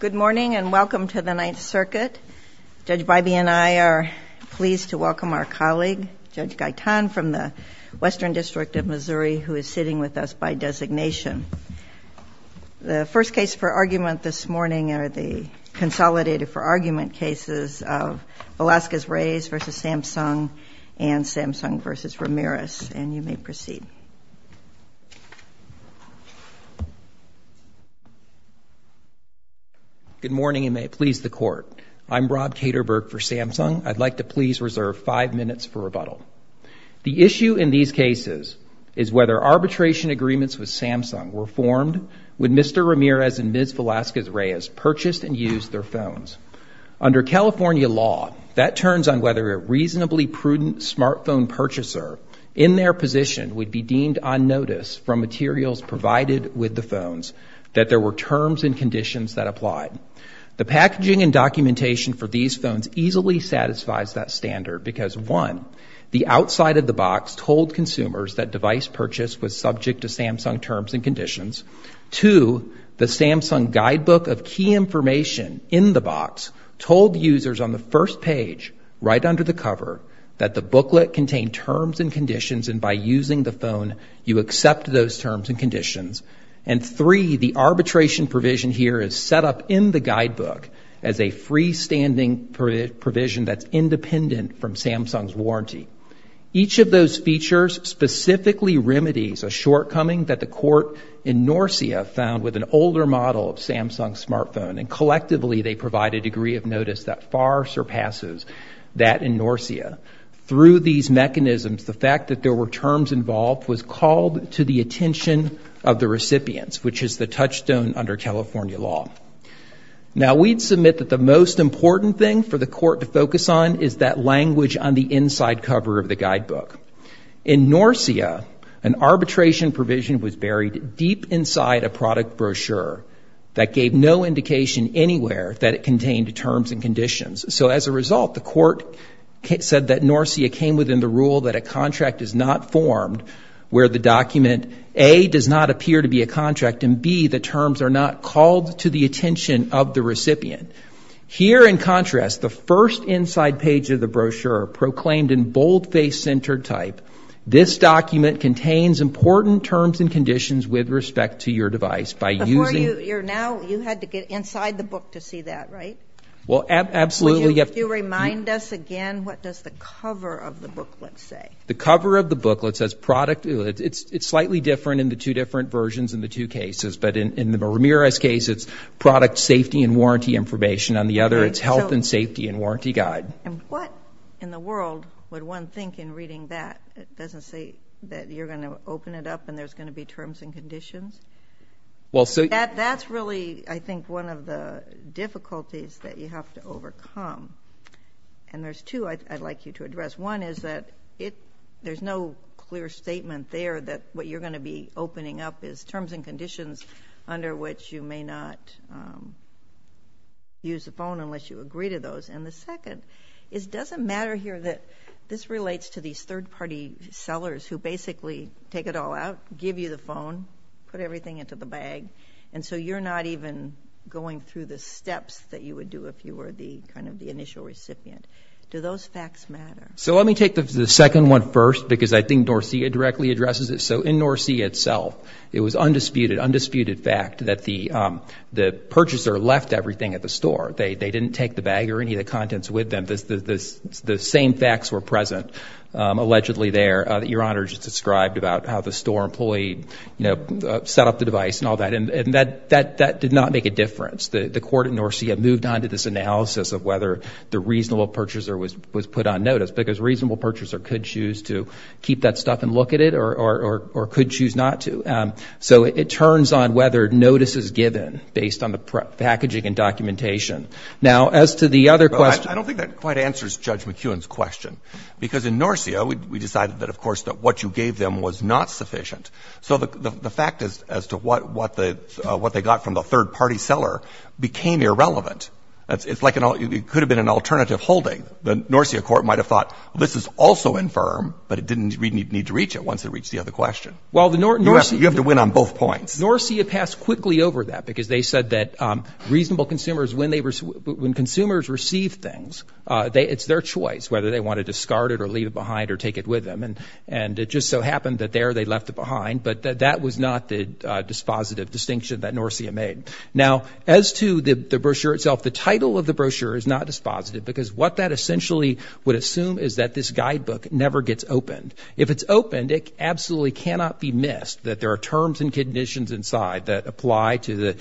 Good morning and welcome to the Ninth Circuit. Judge Bybee and I are pleased to welcome our colleague, Judge Gaitan, from the Western District of Missouri, who is sitting with us by designation. The first case for argument this morning are the consolidated for argument cases of Velasquez-Reyes v. Samsung and Samsung v. Ramirez. And you may proceed. Good morning and may it please the Court. I'm Rob Kederberg for Samsung. I'd like to please reserve five minutes for rebuttal. The issue in these cases is whether arbitration agreements with Samsung were formed when Mr. Ramirez and Ms. Velasquez-Reyes purchased and used their phones. Under California law, that turns on whether a reasonably prudent smartphone purchaser in their position would be deemed on notice from materials provided with the phones that there were terms and conditions that applied. The packaging and documentation for these phones easily satisfies that standard because one, the outside of the box told consumers that device purchase was subject to Samsung terms and conditions. Two, the Samsung guidebook of key information in the box told users on the first page right under the cover that the booklet contained terms and conditions and by using the phone, you accept those terms and conditions. And three, the arbitration provision here is set up in the guidebook as a freestanding provision that's independent from Samsung's warranty. Each of those features specifically remedies a shortcoming that the court in Norcia found with an older model of Samsung smartphone and collectively they provide a degree of in Norcia. Through these mechanisms, the fact that there were terms involved was called to the attention of the recipients, which is the touchstone under California law. Now we'd submit that the most important thing for the court to focus on is that language on the inside cover of the guidebook. In Norcia, an arbitration provision was buried deep inside a product brochure that gave no indication anywhere that it contained terms and conditions. So as a result, the court said that Norcia came within the rule that a contract is not formed where the document, A, does not appear to be a contract and B, the terms are not called to the attention of the recipient. Here in contrast, the first inside page of the brochure proclaimed in boldface center type, this document contains important terms and conditions with respect to your device by using- Before you, you're now, you had to get inside the book to see that, right? Well, absolutely. If you remind us again, what does the cover of the booklet say? The cover of the booklet says product, it's slightly different in the two different versions in the two cases, but in the Ramirez case, it's product safety and warranty information. On the other, it's health and safety and warranty guide. And what in the world would one think in reading that? It doesn't say that you're going to open it up and there's going to be terms and conditions? That's really, I think, one of the difficulties that you have to overcome. And there's two I'd like you to address. One is that there's no clear statement there that what you're going to be opening up is terms and conditions under which you may not use the phone unless you agree to those. And the second is, does it matter here that this relates to these third party sellers who basically take it all out, give you the phone, put everything into the bag, and so you're not even going through the steps that you would do if you were the kind of the initial recipient. Do those facts matter? So let me take the second one first because I think Norcia directly addresses it. So in Norcia itself, it was undisputed, undisputed fact that the purchaser left everything at the store. They didn't take the bag or any of the contents with them. The same facts were present allegedly there that Your Honor just described about how the store employee, you know, set up the device and all that. And that did not make a difference. The court in Norcia moved on to this analysis of whether the reasonable purchaser was put on notice because a reasonable purchaser could choose to keep that stuff and look at it or could choose not to. So it turns on whether notice is given based on the packaging and documentation. Now as to the other question. I don't think that quite answers Judge McEwen's question because in Norcia, we decided that of course that what you gave them was not sufficient. So the fact as to what they got from the third-party seller became irrelevant. It's like it could have been an alternative holding. The Norcia court might have thought this is also infirm, but it didn't need to reach it once it reached the other question. You have to win on both points. Norcia passed quickly over that because they said that reasonable consumers, when consumers receive things, it's their choice whether they want to discard it or leave it behind or take it with them. And it just so happened that there they left it behind. But that was not the dispositive distinction that Norcia made. Now as to the brochure itself, the title of the brochure is not dispositive because what that essentially would assume is that this guidebook never gets opened. If it's opened, it absolutely cannot be missed that there are terms and conditions inside that apply to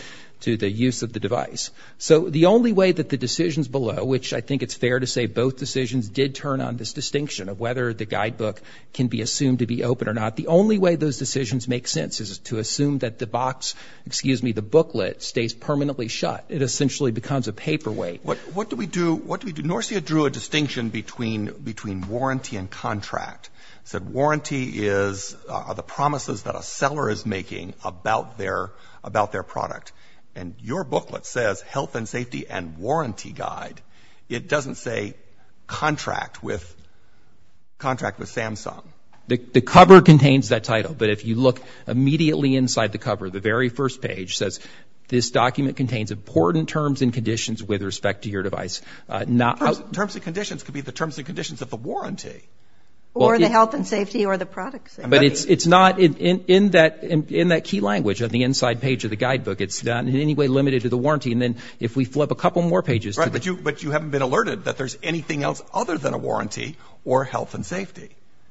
the use of the device. So the only way that the decisions below, which I think it's fair to say both decisions did turn on this distinction of whether the guidebook can be assumed to be open or not, the only way those decisions make sense is to assume that the box, excuse me, the booklet stays permanently shut. It essentially becomes a paperweight. What do we do? What do we do? Norcia drew a distinction between warranty and contract, said warranty is the promises that a seller is making about their product. And your booklet says health and safety and warranty guide. It doesn't say contract with Samsung. The cover contains that title. But if you look immediately inside the cover, the very first page says this document contains important terms and conditions with respect to your device. Terms and conditions could be the terms and conditions of the warranty. Or the health and safety or the products. But it's not in that key language on the inside page of the guidebook. It's not in any way limited to the warranty. And then if we flip a couple more pages. But you haven't been alerted that there's anything else other than a warranty or health and safety.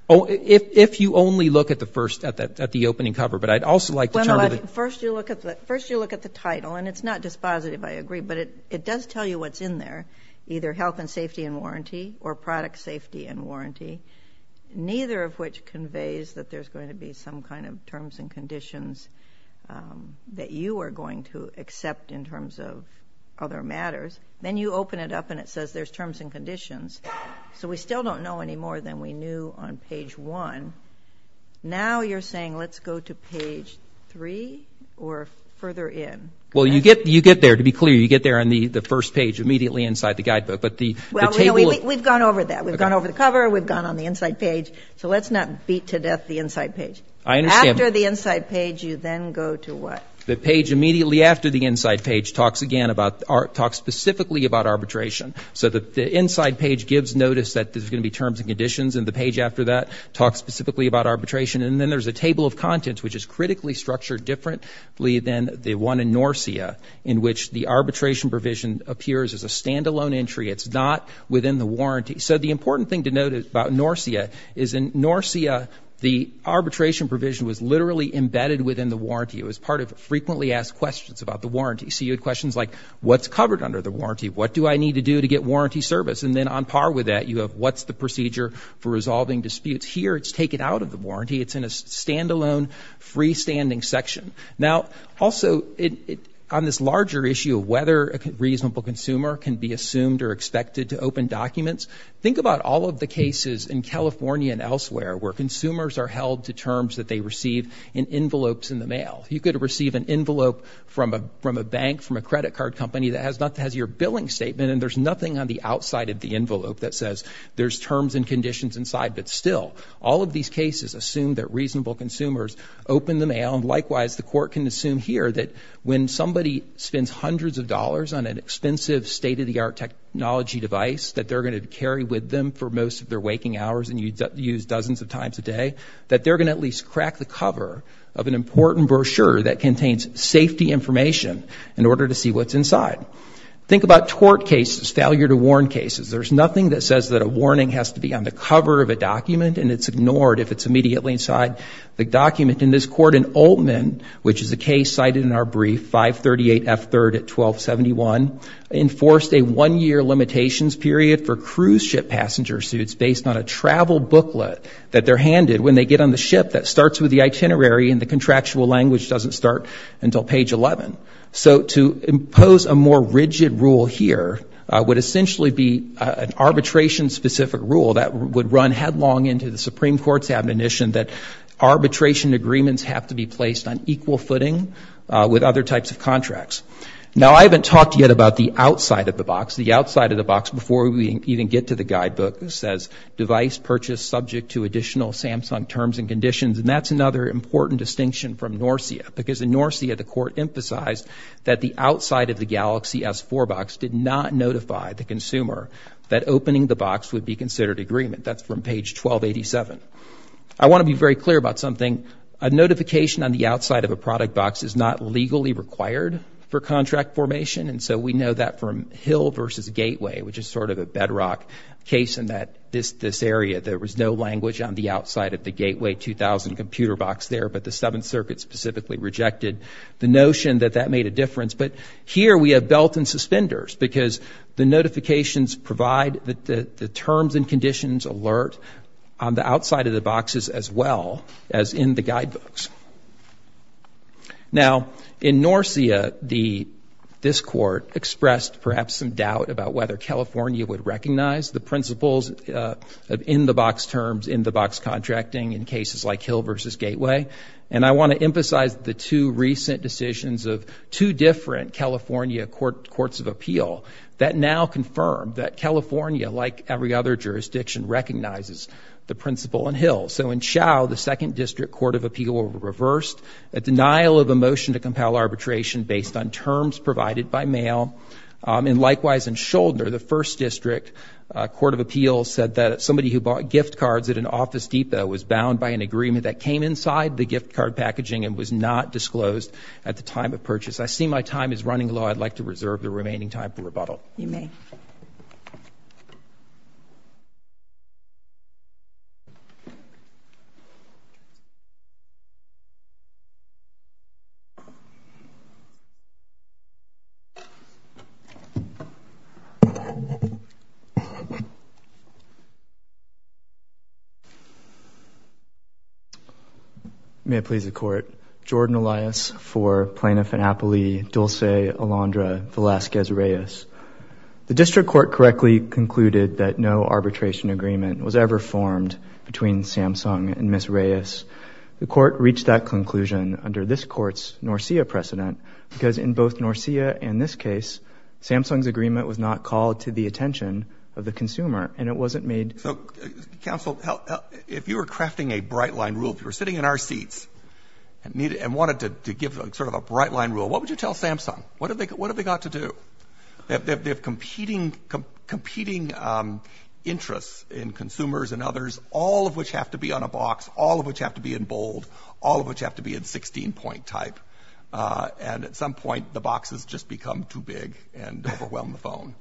Oh, if you only look at the first, at the opening cover. But I'd also like to. First you look at the title and it's not dispositive, I agree, but it does tell you what's in there. Either health and safety and warranty or product safety and warranty. Neither of which conveys that there's going to be some kind of terms and conditions that you are going to accept in terms of other matters. Then you open it up and it says there's terms and conditions. So we still don't know any more than we knew on page one. Now you're saying let's go to page three or further in. Well you get, you get there, to be clear, you get there on the first page immediately inside the guidebook. But the table. We've gone over that. Okay. We've gone over the cover. We've gone on the inside page. So let's not beat to death the inside page. I understand. After the inside page you then go to what? The page immediately after the inside page talks again about, talks specifically about arbitration. So the inside page gives notice that there's going to be terms and conditions and the page after that talks specifically about arbitration. And then there's a table of contents which is critically structured differently than the one in NORCIA in which the arbitration provision appears as a standalone entry. It's not within the warranty. So the important thing to note about NORCIA is in NORCIA the arbitration provision was literally embedded within the warranty. It was part of frequently asked questions about the warranty. So you had questions like what's covered under the warranty? What do I need to do to get warranty service? And then on par with that you have what's the procedure for resolving disputes? Here it's taken out of the warranty. It's in a standalone freestanding section. Now also on this larger issue of whether a reasonable consumer can be assumed or expected to open documents, think about all of the cases in California and elsewhere where consumers are held to terms that they receive in envelopes in the mail. You could receive an envelope from a bank, from a credit card company that has your billing statement and there's nothing on the outside of the envelope that says there's terms and conditions inside. But still, all of these cases assume that reasonable consumers open the mail and likewise the court can assume here that when somebody spends hundreds of dollars on an expensive state-of-the-art technology device that they're going to carry with them for most of their waking hours and use dozens of times a day, that they're going to at least crack the cover of an important brochure that contains safety information in order to see what's inside. Think about tort cases, failure to warn cases. There's nothing that says that a warning has to be on the cover of a document and it's ignored if it's immediately inside the document. In this court in Oltman, which is a case cited in our brief, 538F3rd at 1271, enforced a one-year limitations period for cruise ship passenger suits based on a travel booklet that they're handed when they get on the ship that starts with the itinerary and the contractual language doesn't start until page 11. So to impose a more rigid rule here would essentially be an arbitration-specific rule that would run headlong into the Supreme Court's admonition that arbitration agreements have to be placed on equal footing with other types of contracts. Now I haven't talked yet about the outside of the box. The outside of the box, before we even get to the guidebook, says device purchased subject to additional Samsung terms and conditions, and that's another important distinction from NORCIA because in NORCIA the court emphasized that the outside of the Galaxy S4 box did not notify the consumer that opening the box would be considered agreement. That's from page 1287. I want to be very clear about something. A notification on the outside of a product box is not legally required for contract formation, and so we know that from Hill v. Gateway, which is sort of a bedrock case in this area. There was no language on the outside of the Gateway 2000 computer box there, but the Seventh Circuit specifically rejected the notion that that made a difference. But here we have belt and suspenders because the notifications provide the terms and conditions alert on the outside of the boxes as well as in the guidebooks. Now in NORCIA, this court expressed perhaps some doubt about whether California would recognize the principles of in-the-box terms, in-the-box contracting in cases like Hill v. Gateway. And I want to emphasize the two recent decisions of two different California Courts of Appeal that now confirm that California, like every other jurisdiction, recognizes the principle in Hill. So in Chau, the Second District Court of Appeal reversed a denial of a motion to compel arbitration based on terms provided by mail, and likewise in Scholdner, the First District Court of Appeal said that somebody who bought gift cards at an office depot was bound by an agreement that came inside the gift card packaging and was not disclosed at the time of purchase. I see my time is running low. I'd like to reserve the remaining time for rebuttal. You may. May it please the Court, Jordan Elias for Plano-Fanapoli, Dulce, Alondra, Velazquez-Reyes. The District Court correctly concluded that no arbitration agreement was ever formed between Samsung and Ms. Reyes. The Court reached that conclusion under this Court's NORCIA precedent, because in both NORCIA and this case, Samsung's agreement was not called to the attention of the consumer and it wasn't made- So, Counsel, if you were crafting a bright line rule, if you were sitting in our seats and wanted to give sort of a bright line rule, what would you tell Samsung? What have they got to do? They have competing interests in consumers and others, all of which have to be on a box, all of which have to be in bold, all of which have to be in 16-point type, and at some point the boxes just become too big and overwhelm the phone.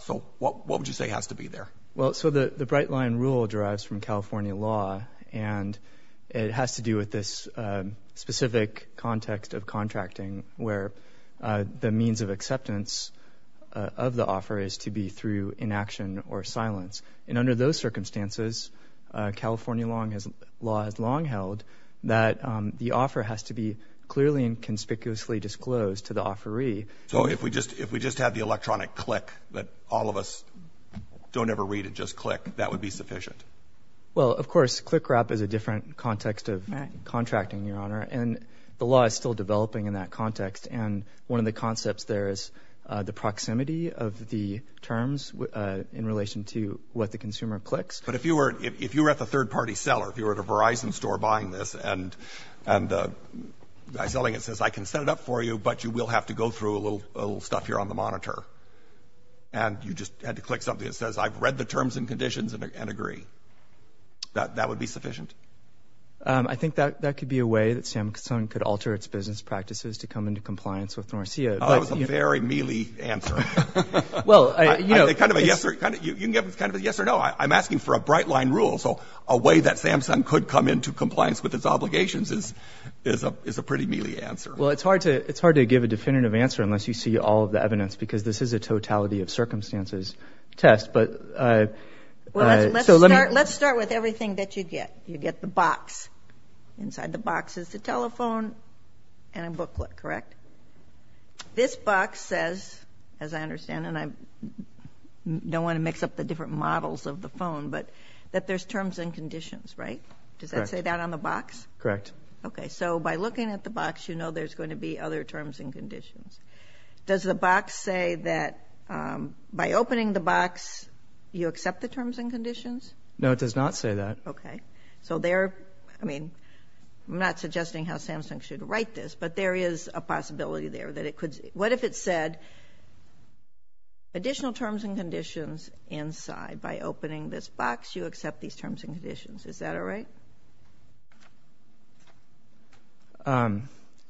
So what would you say has to be there? Well, so the bright line rule derives from California law, and it has to do with this specific context of contracting, where the means of acceptance of the offer is to be through inaction or silence. And under those circumstances, California law has long held that the offer has to be clearly and conspicuously disclosed to the offeree. So if we just had the electronic click, that all of us don't ever read it, just click, that would be sufficient? Well, of course, click wrap is a different context of contracting, Your Honor, and the law is still developing in that context, and one of the concepts there is the proximity of the terms in relation to what the consumer clicks. But if you were at the third-party seller, if you were at a Verizon store buying this and the guy selling it says, I can set it up for you, but you will have to go through a little stuff here on the monitor, and you just had to click something that says, I've read the terms and conditions and agree, that would be sufficient? I think that could be a way that Samsung could alter its business practices to come into compliance with Norcia. That was a very mealy answer. Well, you know— Kind of a yes or—you can give it kind of a yes or no. I'm asking for a bright line rule, so a way that Samsung could come into compliance with its obligations is a pretty mealy answer. Well, it's hard to give a definitive answer unless you see all of the evidence, because this is a totality of circumstances test, but— Well, let's start with everything that you get. You get the box. Inside the box is the telephone and a booklet, correct? This box says, as I understand, and I don't want to mix up the different models of the phone, but that there's terms and conditions, right? Correct. Does it say that on the box? Correct. Okay. So, by looking at the box, you know there's going to be other terms and conditions. Does the box say that by opening the box, you accept the terms and conditions? No, it does not say that. Okay. So, there—I mean, I'm not suggesting how Samsung should write this, but there is a possibility there that it could—what if it said, additional terms and conditions inside. By opening this box, you accept these terms and conditions. Is that all right?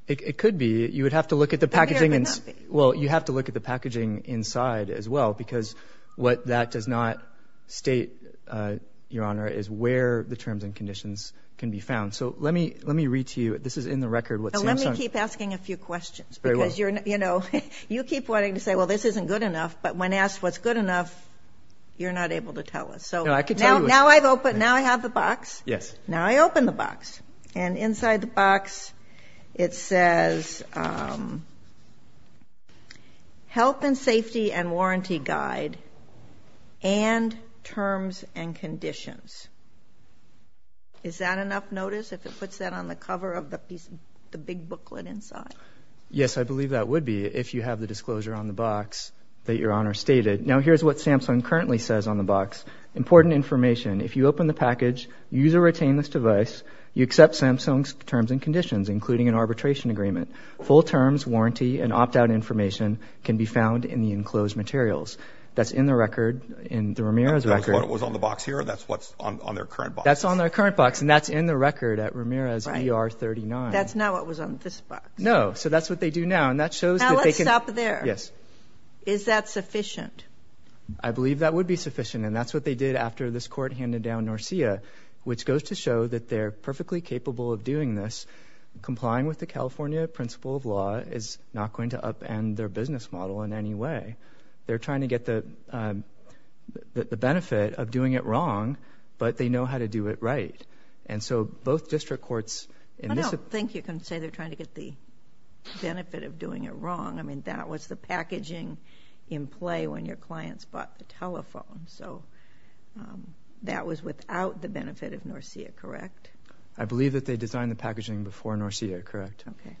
It could be. You would have to look at the packaging— It could be or it could not be. Well, you have to look at the packaging inside as well, because what that does not state, Your Honor, is where the terms and conditions can be found. So, let me read to you. This is in the record with Samsung. Now, let me keep asking a few questions, because, you know, you keep wanting to say, well, this isn't good enough, but when asked what's good enough, you're not able to tell us. So— No, I could tell you what's— Now I've opened—now I have the box. Yes. Now I open the box, and inside the box, it says, um, Health and Safety and Warranty Guide and Terms and Conditions. Is that enough notice if it puts that on the cover of the piece—the big booklet inside? Yes, I believe that would be if you have the disclosure on the box that Your Honor stated. Now, here's what Samsung currently says on the box. Important information. If you open the package, use or retain this device, you accept Samsung's terms and conditions, including an arbitration agreement. Full terms, warranty, and opt-out information can be found in the enclosed materials. That's in the record in the Ramirez record. That's what was on the box here? That's what's on their current box? That's on their current box, and that's in the record at Ramirez ER 39. That's not what was on this box. No. So that's what they do now, and that shows that they can— Now let's stop there. Yes. Is that sufficient? I believe that would be sufficient, and that's what they did after this Court handed down NORCIA, which goes to show that they're perfectly capable of doing this. Complying with the California principle of law is not going to upend their business model in any way. They're trying to get the benefit of doing it wrong, but they know how to do it right. And so both district courts— I don't think you can say they're trying to get the benefit of doing it wrong. I mean, that was the packaging in play when your clients bought the telephone. So that was without the benefit of NORCIA, correct? I believe that they designed the packaging before NORCIA, correct. Okay.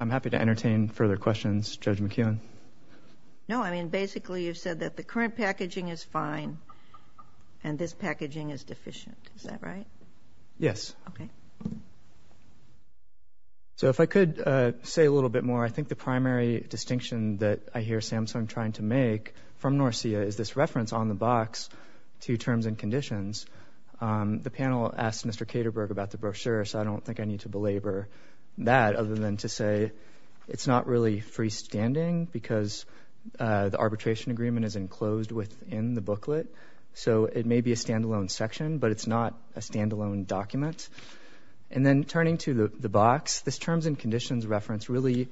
I'm happy to entertain further questions. Judge McKeown? No. I mean, basically you said that the current packaging is fine, and this packaging is deficient. Is that right? Yes. Okay. So if I could say a little bit more, I think the primary distinction that I hear Samsung trying to make from NORCIA is this reference on the box to terms and conditions. The panel asked Mr. Kederberg about the brochure, so I don't think I need to belabor that other than to say it's not really freestanding, because the arbitration agreement is enclosed within the booklet. So it may be a standalone section, but it's not a standalone document. And then turning to the box, this terms and conditions reference really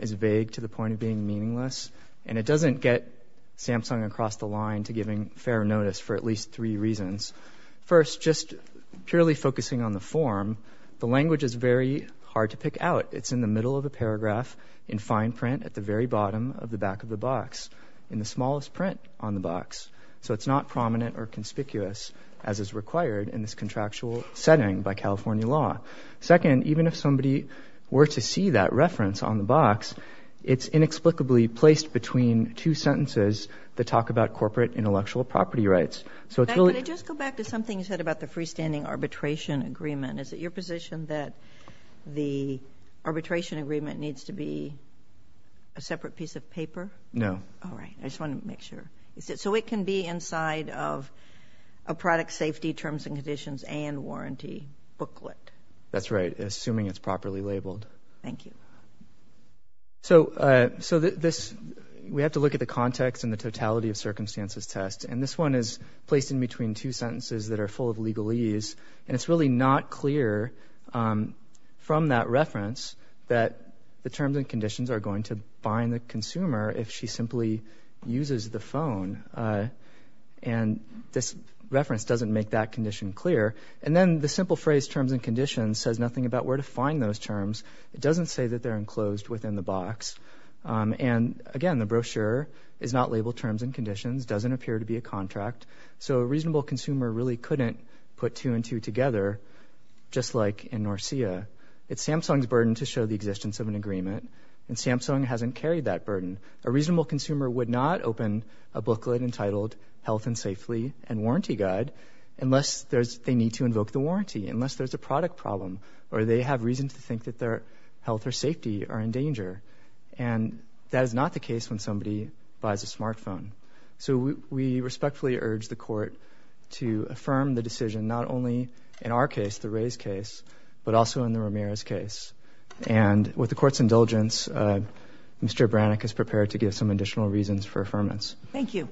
is vague to the point of being meaningless, and it doesn't get Samsung across the line to giving fair notice for at least three reasons. First, just purely focusing on the form, the language is very hard to pick out. It's in the middle of the paragraph in fine print at the very bottom of the back of the box in the smallest print on the box. So it's not prominent or conspicuous as is required in this contractual setting by California law. Second, even if somebody were to see that reference on the box, it's inexplicably placed between two sentences that talk about corporate intellectual property rights. So it's really— Can I just go back to something you said about the freestanding arbitration agreement? Is it your position that the arbitration agreement needs to be a separate piece of paper? No. All right. I just want to make sure. So it can be inside of a product safety terms and conditions and warranty booklet? That's right, assuming it's properly labeled. Thank you. So this—we have to look at the context and the totality of circumstances test, and this one is placed in between two sentences that are full of legalese, and it's really not clear from that reference that the terms and conditions are going to bind the consumer if she simply uses the phone. And this reference doesn't make that condition clear. And then the simple phrase terms and conditions says nothing about where to find those terms. It doesn't say that they're enclosed within the box. And again, the brochure is not labeled terms and conditions, doesn't appear to be a contract. So a reasonable consumer really couldn't put two and two together, just like in Norcia. It's Samsung's burden to show the existence of an agreement, and Samsung hasn't carried that burden. A reasonable consumer would not open a booklet entitled Health and Safely and Warranty Guide unless they need to invoke the warranty, unless there's a product problem, or they have reason to think that their health or safety are in danger. And that is not the case when somebody buys a smartphone. So we respectfully urge the court to affirm the decision, not only in our case, the Ray's case, but also in the Ramirez case. And with the court's indulgence, Mr. Brannick is prepared to give some additional reasons for affirmance. Thank you.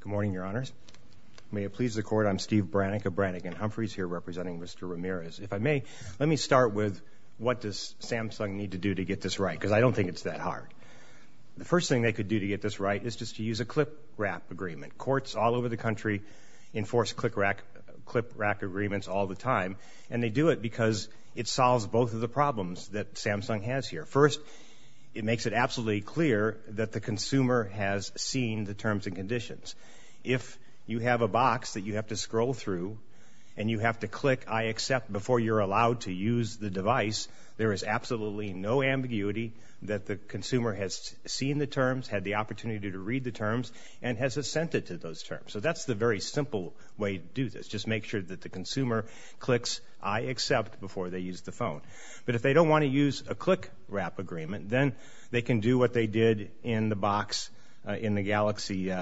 Good morning, Your Honors. May it please the court, I'm Steve Brannick of Brannick and Humphrey's here representing Mr. Ramirez. If I may, let me start with what does Samsung need to do to get this right, because I don't think it's that hard. The first thing they could do to get this right is just to use a CLIPRAC agreement. Courts all over the country enforce CLIPRAC agreements all the time, and they do it because it solves both of the problems that Samsung has here. First, it makes it absolutely clear that the consumer has seen the terms and conditions. If you have a box that you have to scroll through and you have to click I accept before you're allowed to use the device, there is absolutely no ambiguity that the consumer has seen the terms, had the opportunity to read the terms, and has assented to those terms. So that's the very simple way to do this. Just make sure that the consumer clicks I accept before they use the phone. But if they don't want to use a CLIPRAC agreement, then they can do what they did in the box in the Galaxy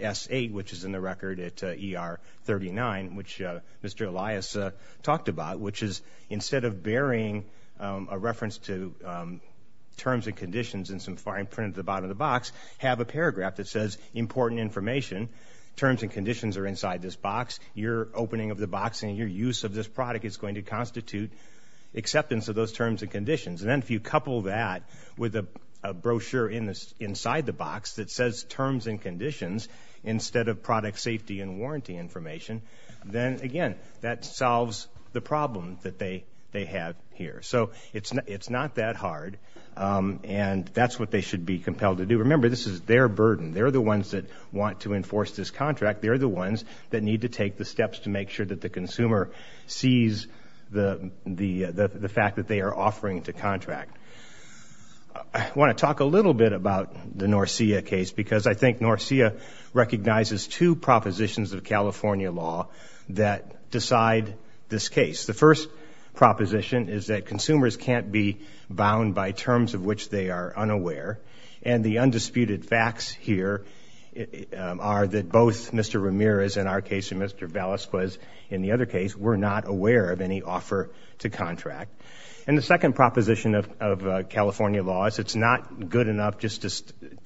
S8, which is in the record at ER39, which Mr. Elias talked about, which is instead of burying a reference to terms and conditions in some fine print at the bottom of the box, have a paragraph that says, important information, terms and conditions are inside this box. Your opening of the box and your use of this product is going to constitute acceptance of those terms and conditions. And then if you couple that with a brochure inside the box that says terms and conditions instead of product safety and warranty information, then again, that solves the problem that they have here. So it's not that hard. And that's what they should be compelled to do. Remember, this is their burden. They're the ones that want to enforce this contract. They're the ones that need to take the steps to make sure that the consumer sees the fact that they are offering to contract. I want to talk a little bit about the Norcia case, because I think Norcia recognizes two propositions of California law that decide this case. The first proposition is that consumers can't be bound by terms of which they are unaware. And the undisputed facts here are that both Mr. Ramirez in our case and Mr. Vallis was in the other case were not aware of any offer to contract. And the second proposition of California law is it's not good enough just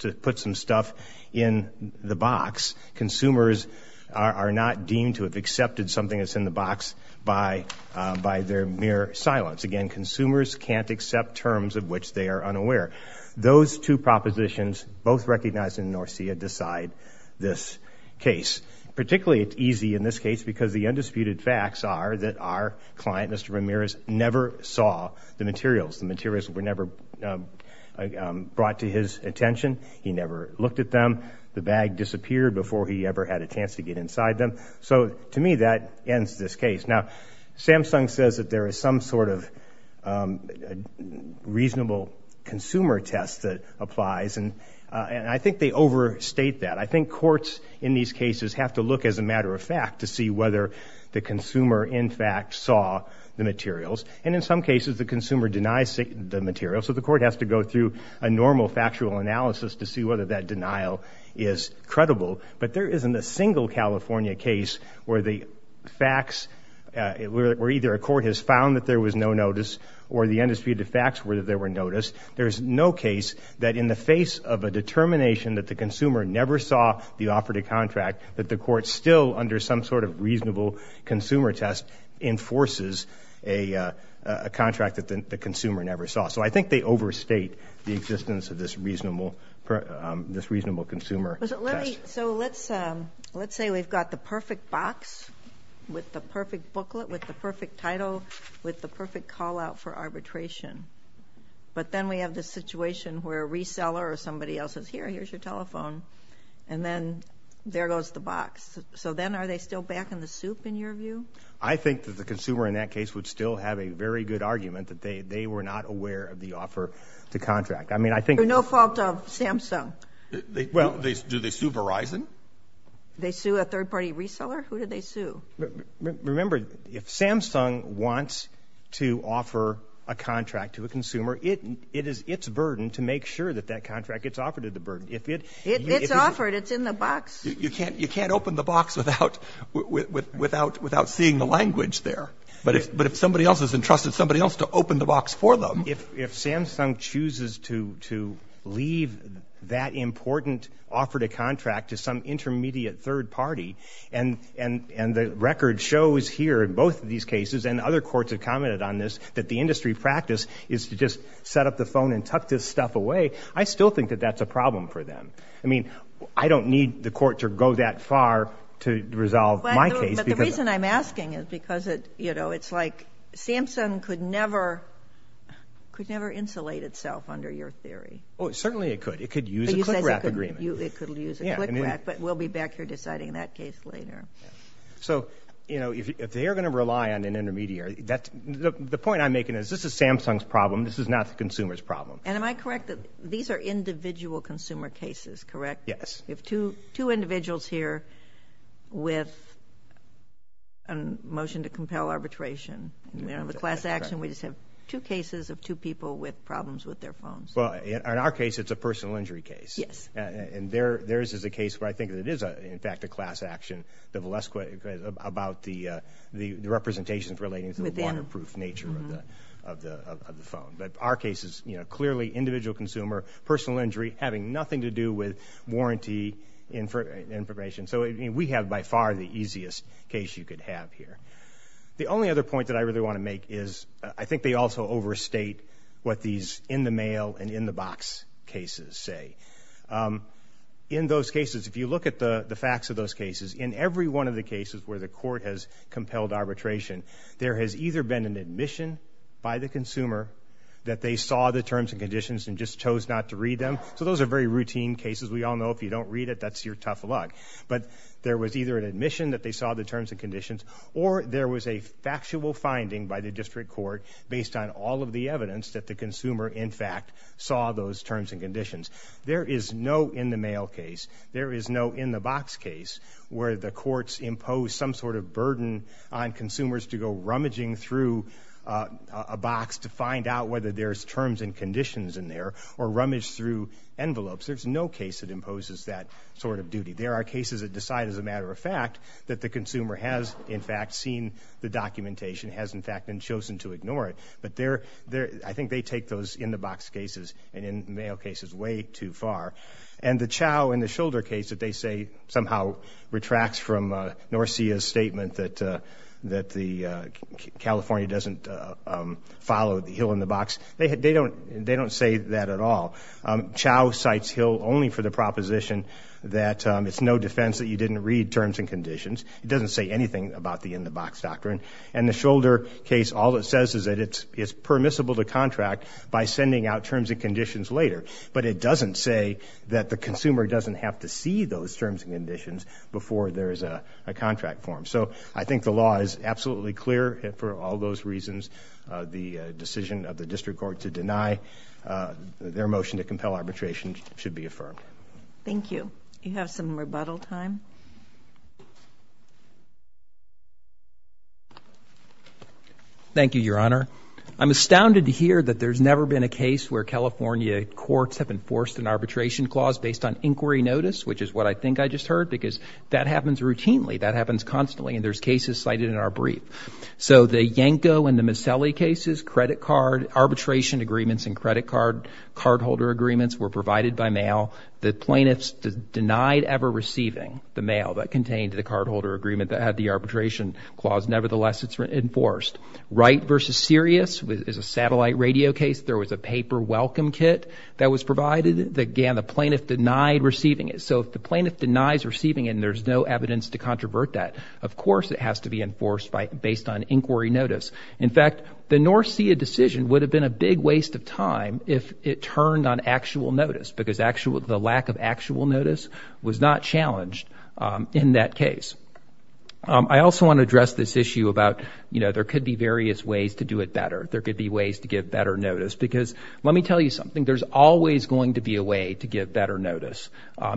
to put some stuff in the box. Consumers are not deemed to have accepted something that's in the box by their mere silence. Again, consumers can't accept terms of which they are unaware. Those two propositions, both recognized in Norcia, decide this case. Particularly, it's easy in this case because the undisputed facts are that our client, Mr. Ramirez, never saw the materials. The materials were never brought to his attention. He never looked at them. The bag disappeared before he ever had a chance to get inside them. So to me, that ends this case. Now, Samsung says that there is some sort of reasonable consumer test that applies, and I think they overstate that. I think courts in these cases have to look as a matter of fact to see whether the consumer in fact saw the materials. And in some cases, the consumer denies the materials, so the court has to go through a normal factual analysis to see whether that denial is credible. But there isn't a single California case where either a court has found that there was no notice or the undisputed facts were that there were notice. There's no case that in the face of a determination that the consumer never saw the operative contract, that the court still, under some sort of reasonable consumer test, enforces a contract that the consumer never saw. So I think they overstate the existence of this reasonable consumer test. So let's say we've got the perfect box with the perfect booklet, with the perfect title, with the perfect call-out for arbitration. But then we have the situation where a reseller or somebody else says, here, here's your telephone, and then there goes the box. So then are they still back in the soup, in your view? I think that the consumer in that case would still have a very good argument that they were not aware of the offer to contract. I mean, I think— No fault of Samsung? Well— Do they sue Verizon? They sue a third-party reseller? Who did they sue? Remember, if Samsung wants to offer a contract to a consumer, it is its burden to make sure that that contract gets offered at the burden. If it— It's offered. It's in the box. You can't open the box without seeing the language there. But if somebody else has entrusted somebody else to open the box for them— If Samsung chooses to leave that important offer to contract to some intermediate third party, and the record shows here in both of these cases, and other courts have commented on this, that the industry practice is to just set up the phone and tuck this stuff away, I still think that that's a problem for them. I mean, I don't need the court to go that far to resolve my case because— But the reason I'm asking is because it, you know, it's like Samsung could never—could never insulate itself under your theory. Oh, certainly it could. It could use a CLICRAP agreement. But you said it could use a CLICRAP. Yeah. It could use a CLICRAP. But we'll be back here deciding that case later. So, you know, if they are going to rely on an intermediary, that's—the point I'm making is this is Samsung's problem. This is not the consumer's problem. And am I correct that these are individual consumer cases, correct? Yes. We have two individuals here with a motion to compel arbitration. We don't have a class action. We just have two cases of two people with problems with their phones. Well, in our case, it's a personal injury case. Yes. And theirs is a case where I think that it is, in fact, a class action, the Valesqua, about the representations relating to the waterproof nature of the phone. But our case is, you know, clearly individual consumer, personal injury, having nothing to do with warranty information. So we have, by far, the easiest case you could have here. The only other point that I really want to make is I think they also overstate what these in-the-mail and in-the-box cases say. In those cases, if you look at the facts of those cases, in every one of the cases where the court has compelled arbitration, there has either been an admission by the consumer that they saw the terms and conditions and just chose not to read them. So those are very routine cases. We all know if you don't read it, that's your tough luck. But there was either an admission that they saw the terms and conditions, or there was a factual finding by the district court based on all of the evidence that the consumer, in fact, saw those terms and conditions. There is no in-the-mail case, there is no in-the-box case, where the courts impose some sort of burden on consumers to go rummaging through a box to find out whether there's terms and conditions in there, or rummage through envelopes. There's no case that imposes that sort of duty. There are cases that decide, as a matter of fact, that the consumer has, in fact, seen the documentation, has, in fact, been chosen to ignore it. But I think they take those in-the-box cases and in-the-mail cases way too far. And the Chau and the Scholder case that they say somehow retracts from Norcia's statement that California doesn't follow the hill-in-the-box, they don't say that at all. Chau cites hill only for the proposition that it's no defense that you didn't read terms and conditions. It doesn't say anything about the in-the-box doctrine. And the Scholder case, all it says is that it's permissible to contract by sending out terms and conditions later. But it doesn't say that the consumer doesn't have to see those terms and conditions before there is a contract formed. So I think the law is absolutely clear for all those reasons. The decision of the district court to deny their motion to compel arbitration should be affirmed. Thank you. You have some rebuttal time. Thank you, Your Honor. I'm astounded to hear that there's never been a case where California courts have enforced an arbitration clause based on inquiry notice, which is what I think I just heard, because that happens routinely. That happens constantly. And there's cases cited in our brief. So the Yanko and the Miscellany cases, credit card, arbitration agreements and credit card cardholder agreements were provided by mail. The plaintiffs denied ever receiving the mail that contained the cardholder agreement that had the arbitration clause. Nevertheless, it's enforced. Wright v. Sirius is a satellite radio case. There was a paper welcome kit that was provided. Again, the plaintiff denied receiving it. So if the plaintiff denies receiving it and there's no evidence to controvert that, of course it has to be enforced based on inquiry notice. In fact, the North Sea decision would have been a big waste of time if it turned on actual notice, because the lack of actual notice was not challenged in that case. I also want to address this issue about, you know, there could be various ways to do it better. There could be ways to give better notice. Because let me tell you something, there's always going to be a way to give better notice.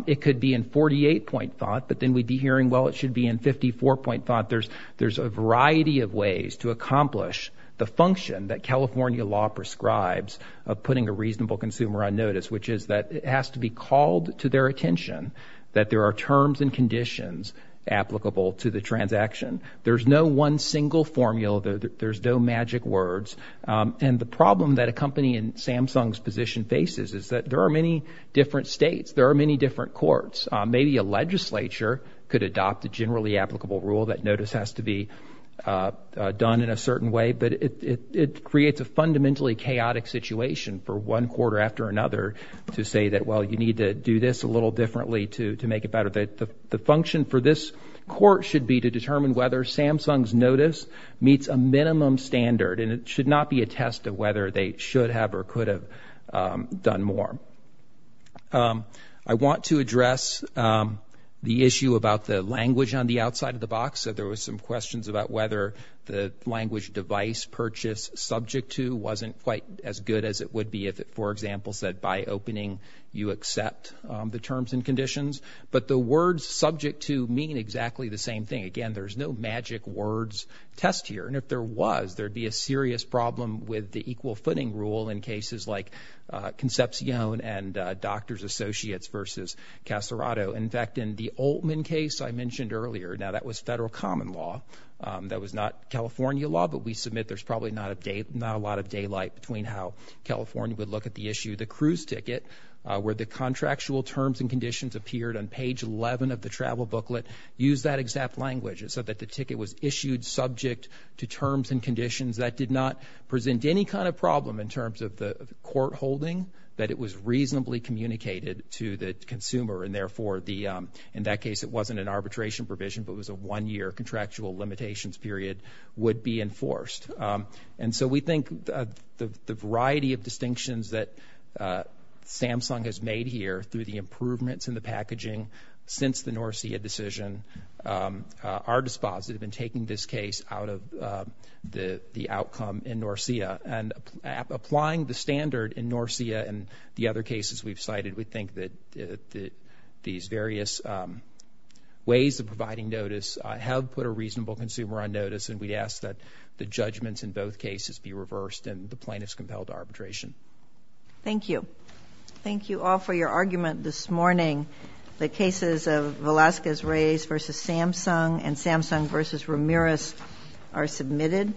It could be in 48-point thought, but then we'd be hearing, well, it should be in 54-point thought. There's a variety of ways to accomplish the function that California law prescribes of on notice, which is that it has to be called to their attention that there are terms and conditions applicable to the transaction. There's no one single formula. There's no magic words. And the problem that a company in Samsung's position faces is that there are many different states. There are many different courts. Maybe a legislature could adopt a generally applicable rule that notice has to be done in a certain way. But it creates a fundamentally chaotic situation for one court after another to say that, well, you need to do this a little differently to make it better. The function for this court should be to determine whether Samsung's notice meets a minimum standard. And it should not be a test of whether they should have or could have done more. I want to address the issue about the language on the outside of the box. So there was some questions about whether the language device purchase subject to wasn't quite as good as it would be if it, for example, said by opening, you accept the terms and conditions. But the words subject to mean exactly the same thing. Again, there's no magic words test here. And if there was, there'd be a serious problem with the equal footing rule in cases like Concepcion and Doctors Associates versus Caserato. In fact, in the Altman case I mentioned earlier, now that was federal common law. That was not California law, but we submit there's probably not a lot of daylight between how California would look at the issue. The cruise ticket, where the contractual terms and conditions appeared on page 11 of the travel booklet, used that exact language. It said that the ticket was issued subject to terms and conditions. That did not present any kind of problem in terms of the court holding, that it was reasonably communicated to the consumer. And therefore, in that case, it wasn't an arbitration provision, but it was a one-year contractual limitations period would be enforced. And so we think the variety of distinctions that Samsung has made here through the improvements in the packaging since the Norcia decision are dispositive in taking this case out of the outcome in Norcia. And applying the standard in Norcia and the other cases we've cited, we think that these various ways of providing notice have put a reasonable consumer on notice, and we ask that the judgments in both cases be reversed and the plaintiff's compelled to arbitration. Thank you. Thank you all for your argument this morning. The cases of Velasquez-Reyes versus Samsung and Samsung versus Ramirez are submitted.